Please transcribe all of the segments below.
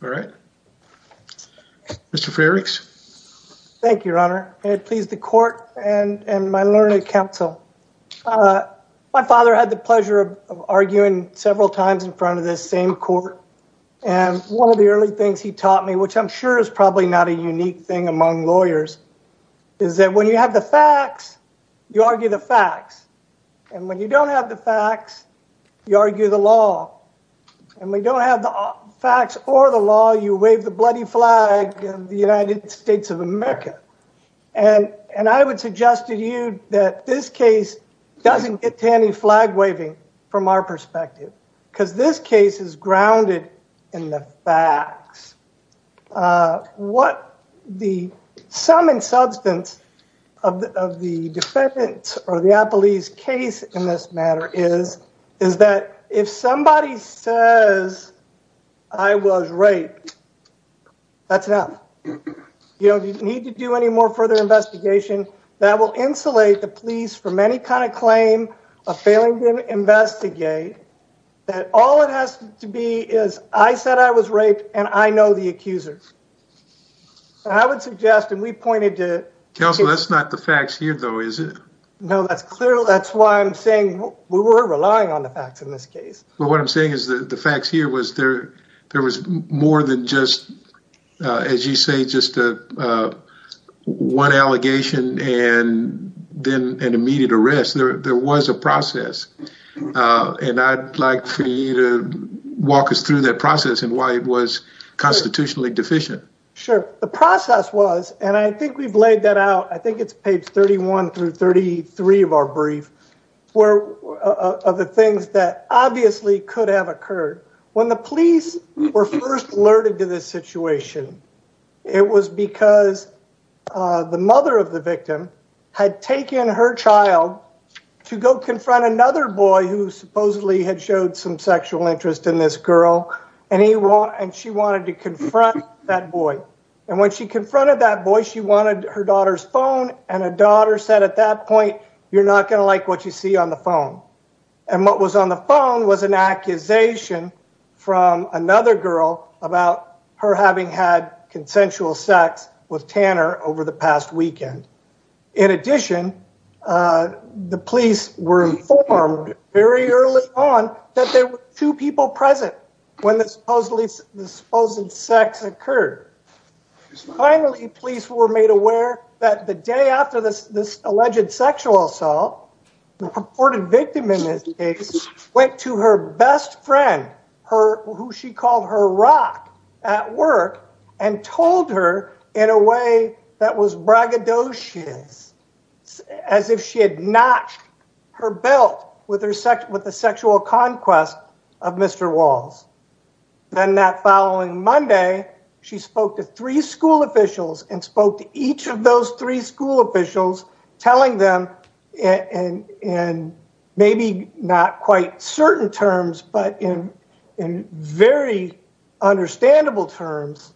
All right. Mr. Frerichs. Thank you, Your Honor. It pleased the court and my learned counsel. My father had the pleasure of arguing several times in front of this same court, and one of the early things he taught me, which I'm sure is probably not a unique thing among lawyers, is that when you have the facts, you argue the facts, and when you don't have the facts, you argue the law, and we don't have the facts or the law, you wave the bloody flag of the United States of America. And I would suggest to you that this case doesn't get to any flag waving from our perspective, because this case is grounded in the facts. What the sum and substance of the defendant or the police case in this matter is, is that if somebody says, I was raped, that's enough. You don't need to do any more further investigation that will insulate the police from any kind of claim of failing to investigate, that all it has to be is, I said I was raped, and I know the accuser. And I would suggest, and we pointed to... Counsel, that's not the facts here though, is it? No, that's clear. That's why I'm saying we were relying on the facts in this case. But what I'm saying is the facts here was there was more than just, as you say, just one allegation and then an immediate arrest. There was a process, and I'd like for you to go through that process and why it was constitutionally deficient. Sure. The process was, and I think we've laid that out, I think it's page 31 through 33 of our brief, of the things that obviously could have occurred. When the police were first alerted to this situation, it was because the mother of the victim had taken her child to go confront another boy who supposedly had showed some sexual interest in this girl, and she wanted to confront that boy. And when she confronted that boy, she wanted her daughter's phone, and her daughter said at that point, you're not going to like what you see on the phone. And what was on the phone was an accusation from another girl about her having had consensual sex with Tanner over the past weekend. In addition, the police were informed very early on that there were two people present when the supposedly sex occurred. Finally, police were made aware that the day after this alleged sexual assault, the purported victim in this case went to her best friend, who she called her rock, at work and told her in a way that was braggadocious, as if she had notched her belt with the sexual conquest of Mr. Walls. Then that following Monday, she spoke to three school officials and spoke to each of those three school officials, telling them in maybe not quite certain terms, but in very understandable terms,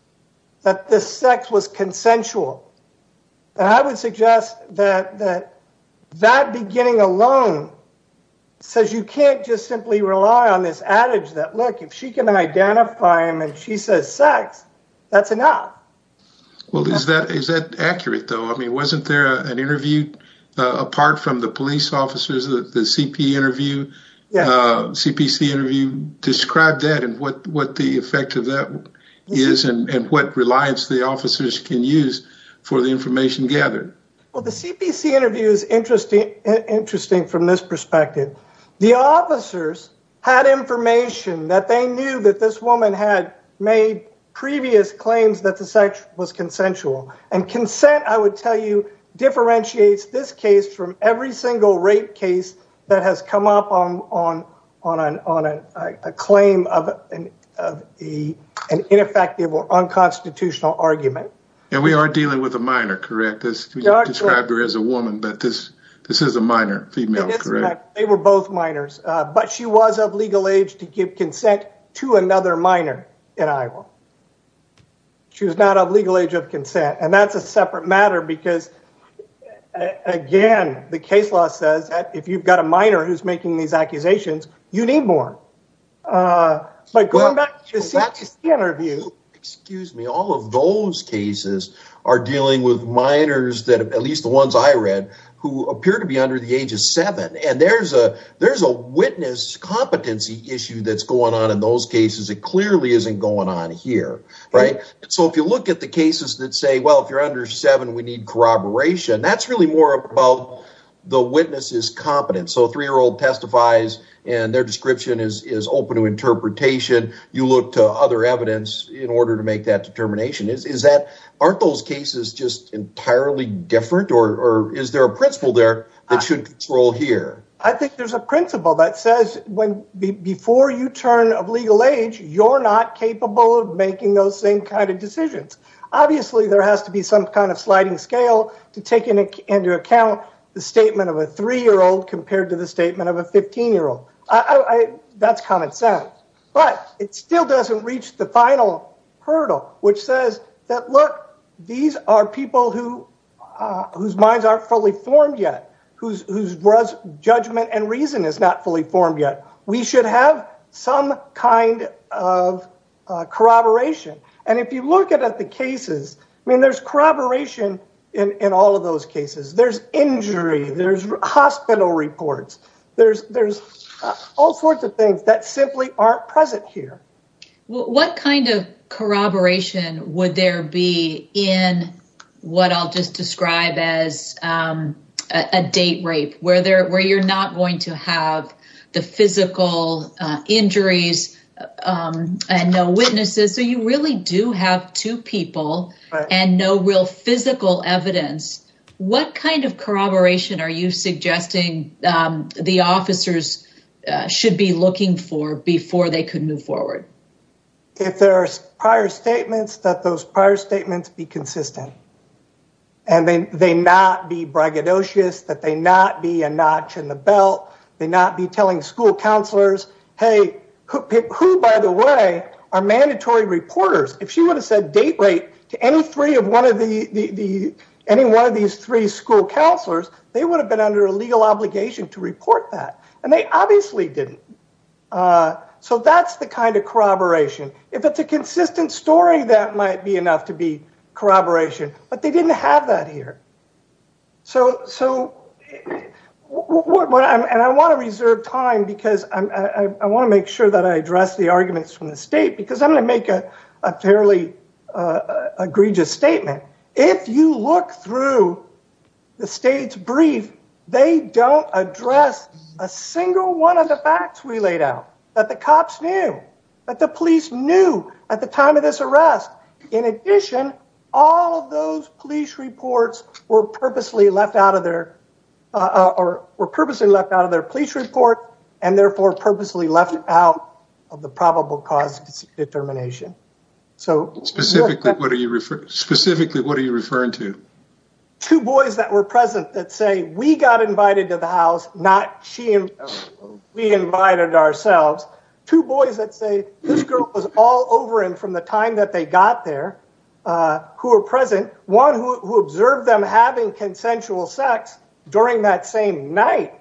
that this sex was consensual. And I would suggest that that beginning alone says you can't just simply rely on this adage that, look, if she can identify him and she says sex, that's enough. Well, is that accurate, though? I mean, wasn't there an interview apart from the police officers, the CPC interview? Describe that and what the effect of that is and what reliance the officers can use for the information gathered. Well, the CPC interview is interesting from this perspective. The officers had information that they knew that this woman had made previous claims that the sex was consensual. And consent, I would tell you, differentiates this case from every single rape case that has come up on a claim of an ineffective or unconstitutional argument. And we are dealing with a minor, correct? You described her as a woman, but this is a minor, female, correct? They were both minors. But she was of legal age to give consent to another minor in Iowa. She was not of legal age of consent. And that's a separate matter because, again, the case law says that if you've got a minor who's making these accusations, you need more. But going back to the CPC interview. Excuse me. All of those cases are dealing with minors, at least the ones I read, who appear to be under the age of seven. And there's a witness competency issue that's going on in those cases. It clearly isn't going on here, right? So if you look at the cases that say, well, if you're under seven, we need corroboration. That's really more about the witness's competence. So a three-year-old testifies and their description is open to interpretation. You look to other evidence in order to make that determination. Aren't those cases just entirely different? Or is there a principle there that should control here? I think there's a principle that says before you turn of legal age, you're not capable of making those same kind of decisions. Obviously, there has to be some kind of sliding scale to take into account the statement of a three-year-old compared to the statement of a 15-year-old. That's common sense. But it still doesn't reach the final hurdle, which says that, look, these are people whose minds aren't fully formed yet, whose judgment and reason is not fully formed yet. We should have some kind of corroboration. And if you look at the cases, I mean, there's corroboration in all of those cases. There's injury. There's hospital reports. There's all sorts of things that simply aren't present here. What kind of corroboration would there be in what I'll just describe as a date rape, where you're not going to have the physical injuries and no witnesses? So you really do have two people and no real physical evidence. What kind of corroboration are you suggesting the officers should be looking for before they could move forward? If there are prior statements, that those prior statements be consistent. And then they not be braggadocious, that they not be a notch in the belt, they not be telling school counselors, hey, who, by the way, are mandatory reporters? If she would have said date rape to any one of these three school counselors, they would have been under a legal obligation to report that. And they obviously didn't. So that's the kind of corroboration. If it's a consistent story, that might be enough to be corroboration. But they didn't have that here. And I want to reserve time, because I want to make sure that I address the arguments from the state, because I'm going to make a fairly egregious statement. If you look through the state's brief, they don't address a single one of the facts we laid out, that the cops knew, that the police knew at the time of this arrest. In addition, all of those police reports were purposely left out of their police report, and therefore purposely left out of the probable cause determination. Specifically, what are you referring to? Two boys that were present that say, we got invited to the house, not we invited ourselves. Two boys that say, this girl was all over him from the time that they got there, who were present. One who observed them having consensual sex during that same night,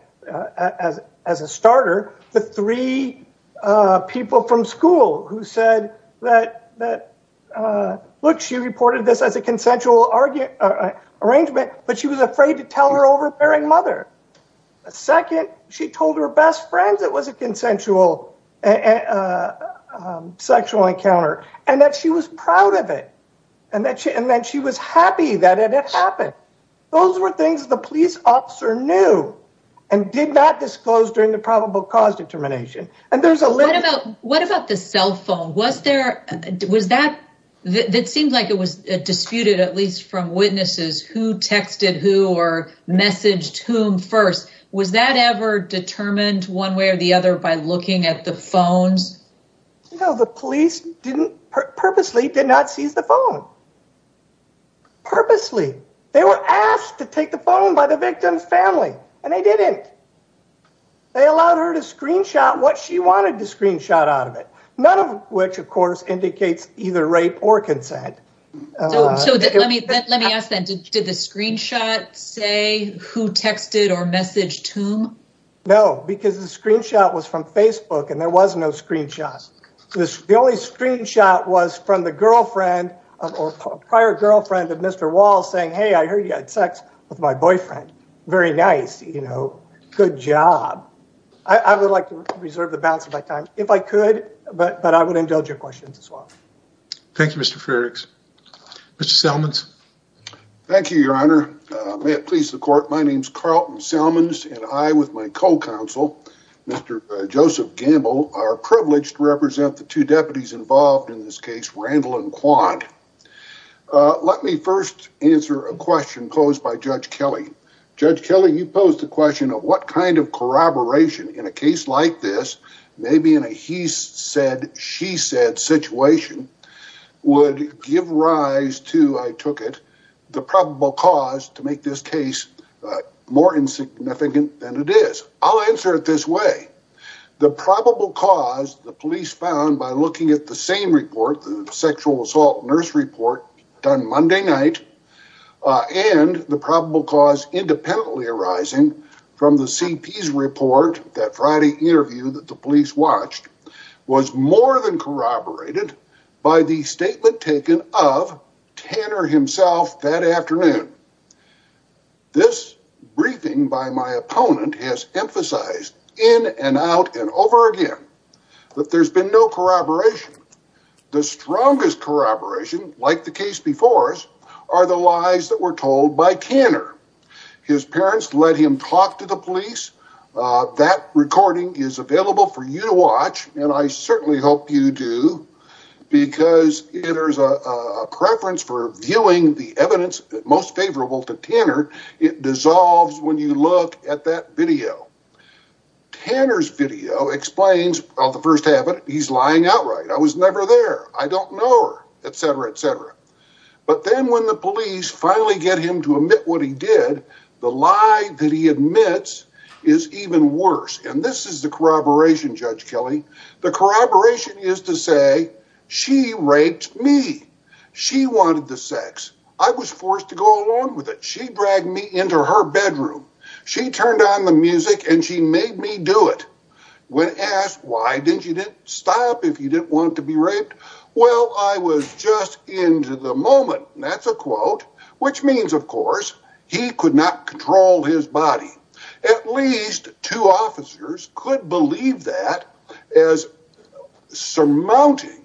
as a starter. The three people from school who said that, look, she reported this as a consensual arrangement, but she was afraid to tell her overbearing mother. Second, she told her best friends it was a consensual sexual encounter, and that she was proud of it, and that she was happy that it had happened. Those were things the police officer knew, and did not disclose during the probable cause determination. What about the cell phone? It seemed like it was disputed, at least from witnesses, who texted who or messaged whom first. Was that ever determined one way or the other by looking at the phones? No, the police purposely did not seize the phone. Purposely. They were asked to take the phone by the victim's family, and they didn't. They allowed her to screenshot what she wanted to screenshot out of it. None of which, of course, indicates either rape or consent. So let me ask then, did the screenshot say who texted or messaged whom? No, because the screenshot was from Facebook, and there was no screenshots. The only screenshot was from the girlfriend or prior girlfriend of Mr. Walls saying, hey, I heard you had sex with my boyfriend. Very nice, you know, good job. I would like to reserve the balance of my time if I could, but I would indulge your questions as well. Thank you, Mr. Frerichs. Mr. Selmans. Thank you, your honor. May it please the court, my name is Carlton Selmans, and I, with my co-counsel, Mr. Joseph Gamble, are privileged to represent the two deputies involved in this case, Randall and Quandt. Let me first answer a question posed by Judge Kelly. Judge Kelly, you posed the question of what kind of corroboration in a case like this, maybe in a she said situation, would give rise to, I took it, the probable cause to make this case more insignificant than it is. I'll answer it this way. The probable cause the police found by looking at the same report, the sexual assault nurse report done Monday night, and the probable cause independently arising from the CP's report, that Friday interview that the police watched, was more than corroborated by the statement taken of Tanner himself that afternoon. This briefing by my opponent has emphasized in and out and over again that there's been no corroboration. The strongest corroboration, like the case before us, are the lies that were told by Tanner. His parents let him talk to the police. That recording is available for you to certainly hope you do, because there's a preference for viewing the evidence most favorable to Tanner. It dissolves when you look at that video. Tanner's video explains the first half of it. He's lying outright. I was never there. I don't know her, etc., etc. But then when the police finally get him to admit what he did, the lie that he admits is even worse. And this is corroboration, Judge Kelly. The corroboration is to say, she raped me. She wanted the sex. I was forced to go along with it. She dragged me into her bedroom. She turned on the music, and she made me do it. When asked, why didn't you stop if you didn't want to be raped? Well, I was just into the moment. That's a quote, which means, of course, he could not control his body. At least two officers could believe that as surmounting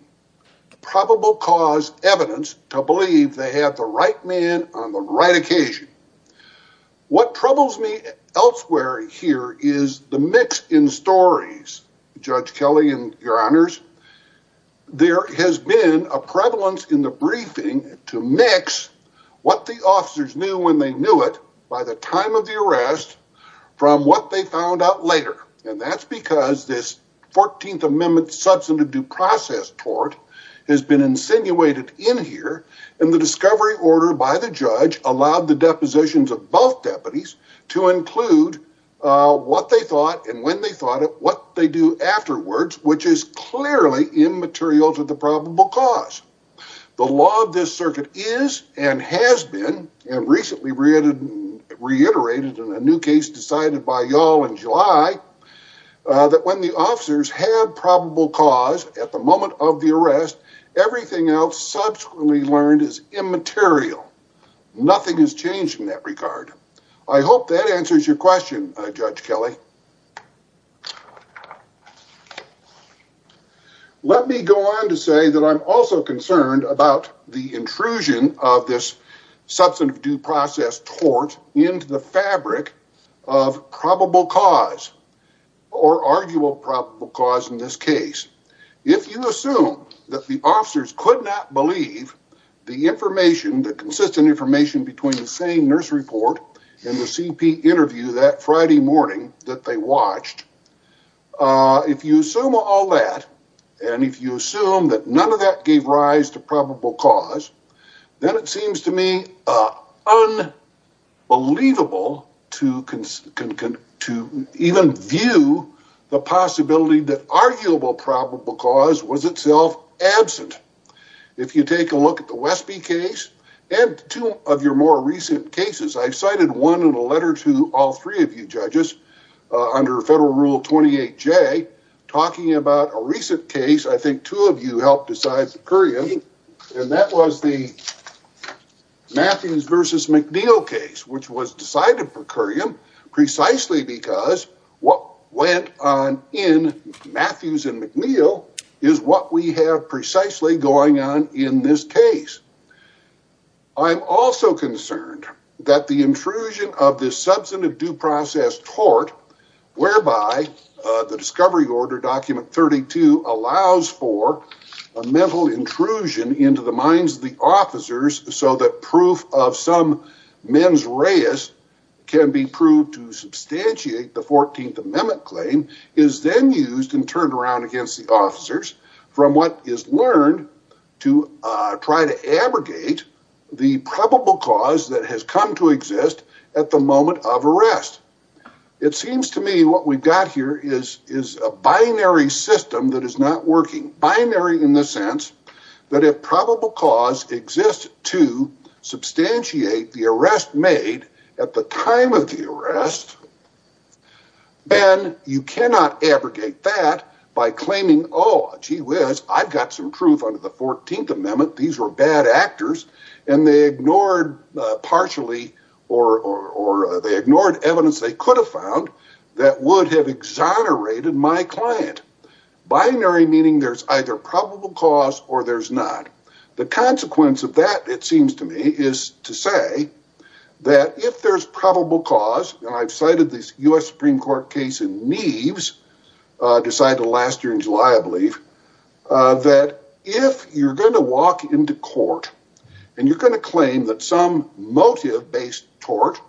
probable cause evidence to believe they had the right man on the right occasion. What troubles me elsewhere here is the mix in stories, Judge Kelly, and your honors. There has been a prevalence in the briefing to mix what the officers knew when they And that's because this 14th Amendment substantive due process tort has been insinuated in here, and the discovery order by the judge allowed the depositions of both deputies to include what they thought and when they thought it, what they do afterwards, which is clearly immaterial to the probable cause. The law of this circuit is and has been, and recently reiterated in a new case decided by y'all in July, that when the officers had probable cause at the moment of the arrest, everything else subsequently learned is immaterial. Nothing has changed in that regard. I hope that answers your question, Judge Kelly. Let me go on to say that I'm also concerned about the intrusion of this substantive due process tort into the fabric of probable cause or arguable probable cause in this case. If you assume that the officers could not believe the information, the consistent information between the same nurse report and the CP interview that Friday morning that they watched, if you assume all that, and if you assume that none of that gave rise to that, it seems to me unbelievable to even view the possibility that arguable probable cause was itself absent. If you take a look at the Westby case and two of your more recent cases, I've cited one in a letter to all three of you judges under federal rule 28J talking about a recent case. I think two of you helped decide for Curiam, and that was the Matthews versus McNeil case, which was decided for Curiam precisely because what went on in Matthews and McNeil is what we have precisely going on in this case. I'm also concerned that the intrusion of this substantive due process tort, whereby the discovery order document 32 allows for a mental intrusion into the minds of the officers so that proof of some mens reis can be proved to substantiate the 14th amendment claim, is then used and turned around against the officers from what is learned to try to abrogate the probable cause that has come to exist at the moment of arrest. It seems to me what we've got here is a binary system that is not working. Binary in the sense that if probable cause exists to substantiate the arrest made at the time of the arrest, then you cannot abrogate that by claiming, oh, gee whiz, I've got some truth under the 14th amendment, these were bad actors, and they ignored partially or they ignored evidence they could have found that would have exonerated my client. Binary meaning there's either probable cause or there's not. The consequence of that, it seems to me, is to say that if there's probable cause, and I've cited this U.S. Supreme Court case in Neves, decided last year in July, I believe, that if you're going to walk into court and you're going to claim that some motive-based tort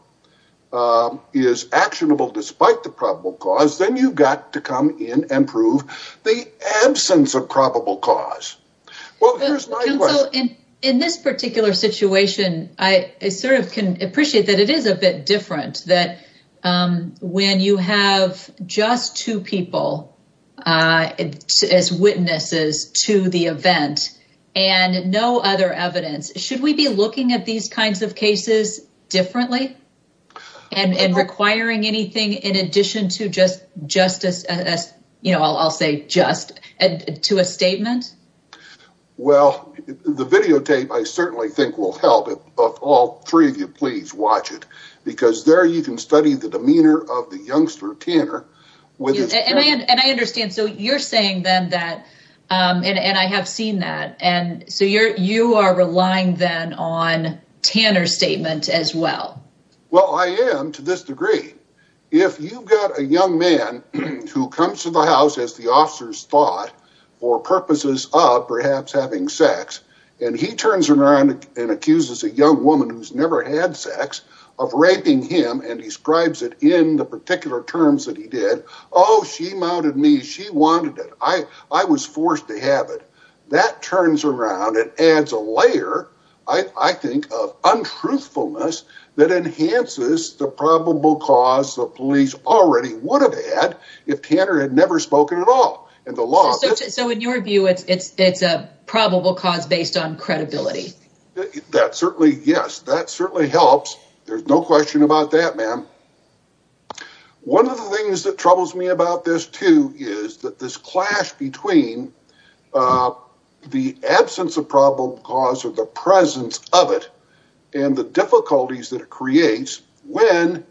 is actionable despite the probable cause, then you've got to come in and prove the absence of probable cause. Well, here's my question. In this particular situation, I sort of can appreciate that it is a bit different that when you have just two people as witnesses to the event and no other evidence, should we be looking at these kinds of cases differently and requiring anything in addition just as, you know, I'll say just, to a statement? Well, the videotape I certainly think will help, all three of you please watch it, because there you can study the demeanor of the youngster Tanner. And I understand, so you're saying then that, and I have seen that, and so you are relying then on to this degree. If you've got a young man who comes to the house, as the officers thought, for purposes of perhaps having sex, and he turns around and accuses a young woman who's never had sex of raping him and describes it in the particular terms that he did, oh, she mounted me, she wanted it, I was forced to have it, that turns around and adds a layer, I think, of truthfulness that enhances the probable cause the police already would have had if Tanner had never spoken at all. So in your view, it's a probable cause based on credibility? That certainly, yes, that certainly helps. There's no question about that, ma'am. One of the things that troubles me about this too is that this clash between the absence of probable cause or the presence of it and the difficulties that it creates when,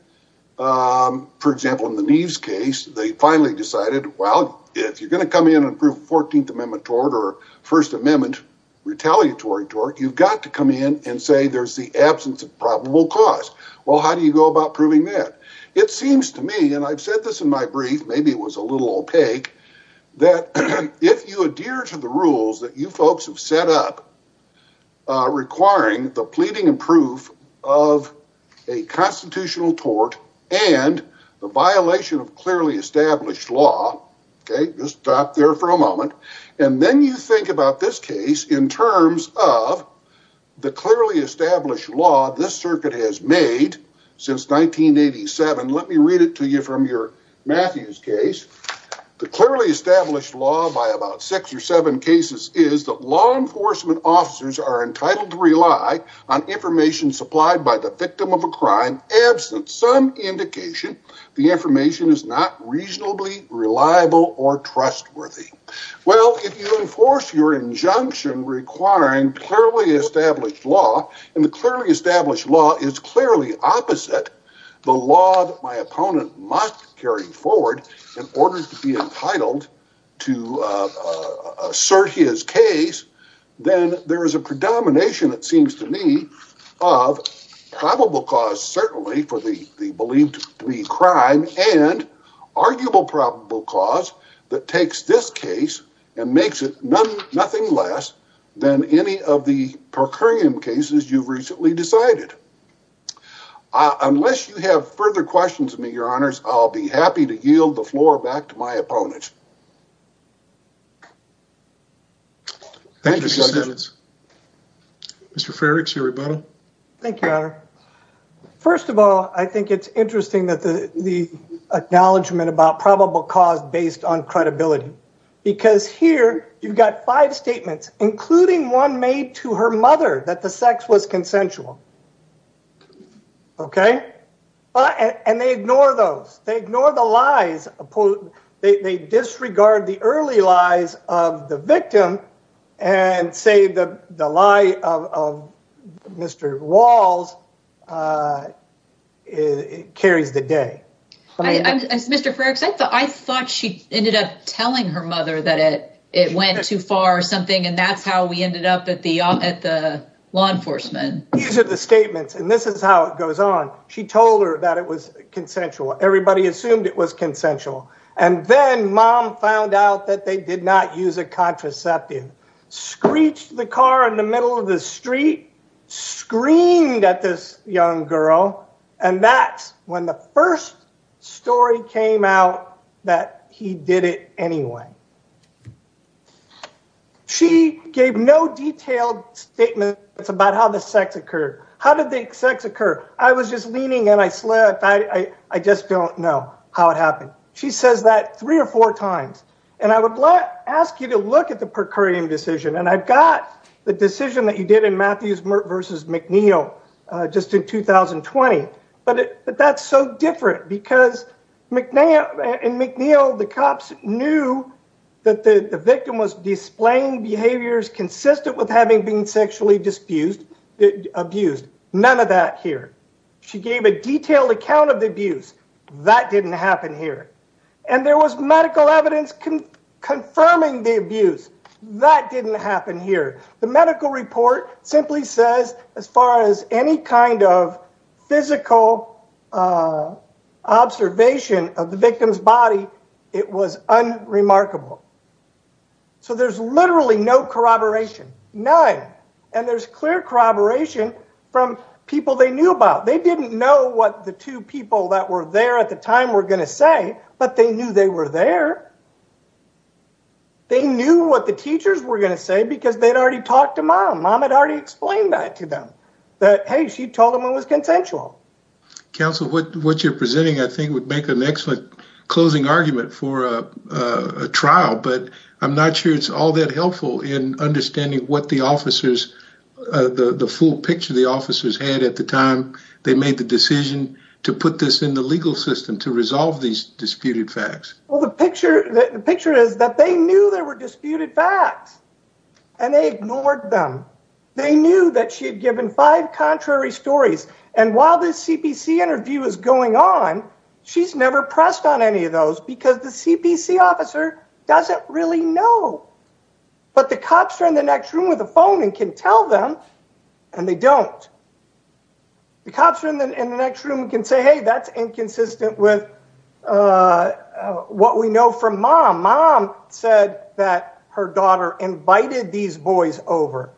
for example, in the Neves case, they finally decided, well, if you're going to come in and prove 14th Amendment tort or First Amendment retaliatory tort, you've got to come in and say there's the absence of probable cause. Well, how do you go about proving that? It seems to me, and I've said this in my brief, maybe it was a little opaque, that if you adhere to the rules that you folks have set up requiring the pleading and proof of a constitutional tort and the violation of clearly established law, just stop there for a moment, and then you think about this case in terms of the clearly established law this circuit has made since 1987. Let me read it to you from your Matthews case. The clearly established law by about six or seven cases is that law enforcement officers are entitled to rely on information supplied by the victim of a crime absent some indication the information is not reasonably reliable or trustworthy. Well, if you enforce your injunction requiring clearly the law that my opponent must carry forward in order to be entitled to assert his case, then there is a predomination, it seems to me, of probable cause certainly for the believed to be crime and arguable probable cause that takes this case and makes it nothing less than any of the unless you have further questions of me, your honors, I'll be happy to yield the floor back to my opponents. Thank you. Mr. Farrick? Thank you, your honor. First of all, I think it's interesting that the acknowledgement about probable cause based on credibility because here you've got five statements including one made to her mother that the sex was consensual. Okay. And they ignore those. They ignore the lies. They disregard the early lies of the victim and say the lie of Mr. Walls carries the day. Mr. Farrick, I thought she ended up telling her mother that it went too far or something and that's how we ended up at the law enforcement. These are the statements and this is how it goes on. She told her that it was consensual. Everybody assumed it was consensual. And then mom found out that they did not use a contraceptive, screeched the car in the middle of the street, screamed at this young girl, and that's when the first story came out that he did it anyway. Okay. She gave no detailed statements about how the sex occurred. How did the sex occur? I was just leaning and I slept. I just don't know how it happened. She says that three or four times. And I would ask you to look at the per curiam decision. And I've got the decision that you did versus McNeil just in 2020. But that's so different because in McNeil, the cops knew that the victim was displaying behaviors consistent with having been sexually abused. None of that here. She gave a detailed account of the abuse. That didn't happen here. And there was medical evidence confirming the abuse. That didn't happen here. The medical report simply says as far as any kind of physical observation of the victim's body, it was unremarkable. So there's literally no corroboration. None. And there's clear corroboration from people they knew about. They didn't know what the two people that were there at the time were going to say, but they knew they were there. They knew what the teachers were going to say because they'd already talked to mom. Mom had already explained that to them. That, hey, she told them it was consensual. Counsel, what you're presenting, I think, would make an excellent closing argument for a trial, but I'm not sure it's all that helpful in understanding what the officers, the full picture the officers had at the time they made the decision to put this in the legal system to resolve these disputed facts. Well, the picture the picture is that they knew there were disputed facts and they ignored them. They knew that she had given five contrary stories. And while this CPC interview is going on, she's never pressed on any of those because the CPC officer doesn't really know. But the cops are in the next room with a phone and can tell them and they don't. The cops are in the next room and can say, hey, that's inconsistent with what we know from mom. Mom said that her daughter invited these boys over.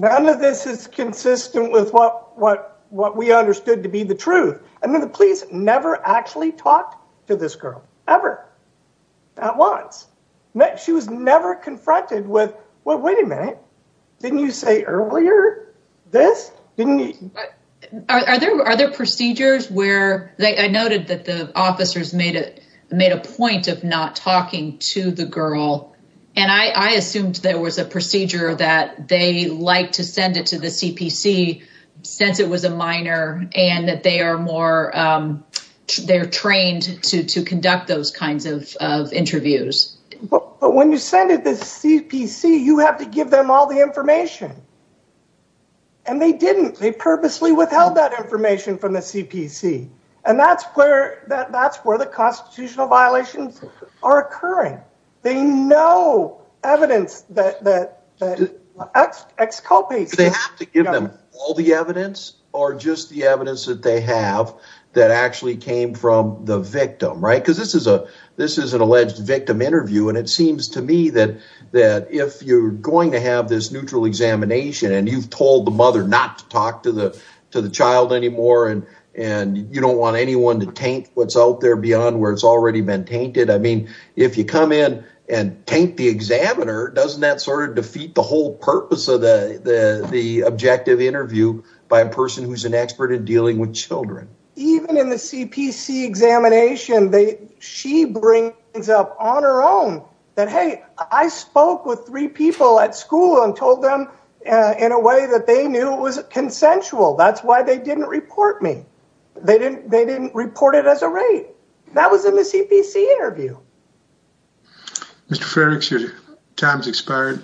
None of this is consistent with what what what we understood to be the truth. And then the police never actually talked to this girl ever. Not once. She was never confronted with, well, wait a minute. Didn't you say earlier this didn't you? Are there are there procedures where they I noted that the officers made it made a point of not talking to the girl. And I assumed there was a procedure that they like to send it to the CPC since it was a minor and that they are more they're trained to to conduct those kinds of interviews. But when you send it to the CPC, you have to give them all the information. And they didn't. They purposely withheld that information from the CPC. And that's where that that's where the constitutional violations are occurring. They know evidence that the excopies, they have to give them all the evidence or just the evidence that they have that actually came from the victim. Right. Because this is a this is an alleged victim interview. And it seems to me that that if you're going to have this neutral examination and you've told the mother not to talk to the to the child anymore and and you don't want anyone to take what's out there beyond where it's already been tainted. I mean, if you come in and take the examiner, doesn't that sort of defeat the whole purpose of the objective interview by a person who's an expert in dealing with children? Even in the CPC examination, they she brings up on her own that, hey, I spoke with three people at school and told them in a way that they knew was consensual. That's why they didn't report me. They didn't they didn't report it as a rate that was in the CPC interview. Mr. Frerichs, your time's expired.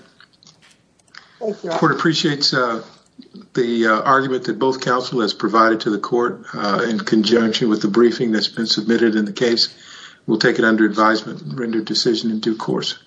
The court appreciates the argument that both counsel has provided to the court in conjunction with the briefing that's been submitted in the case. We'll take it under advisement and render decision in due course.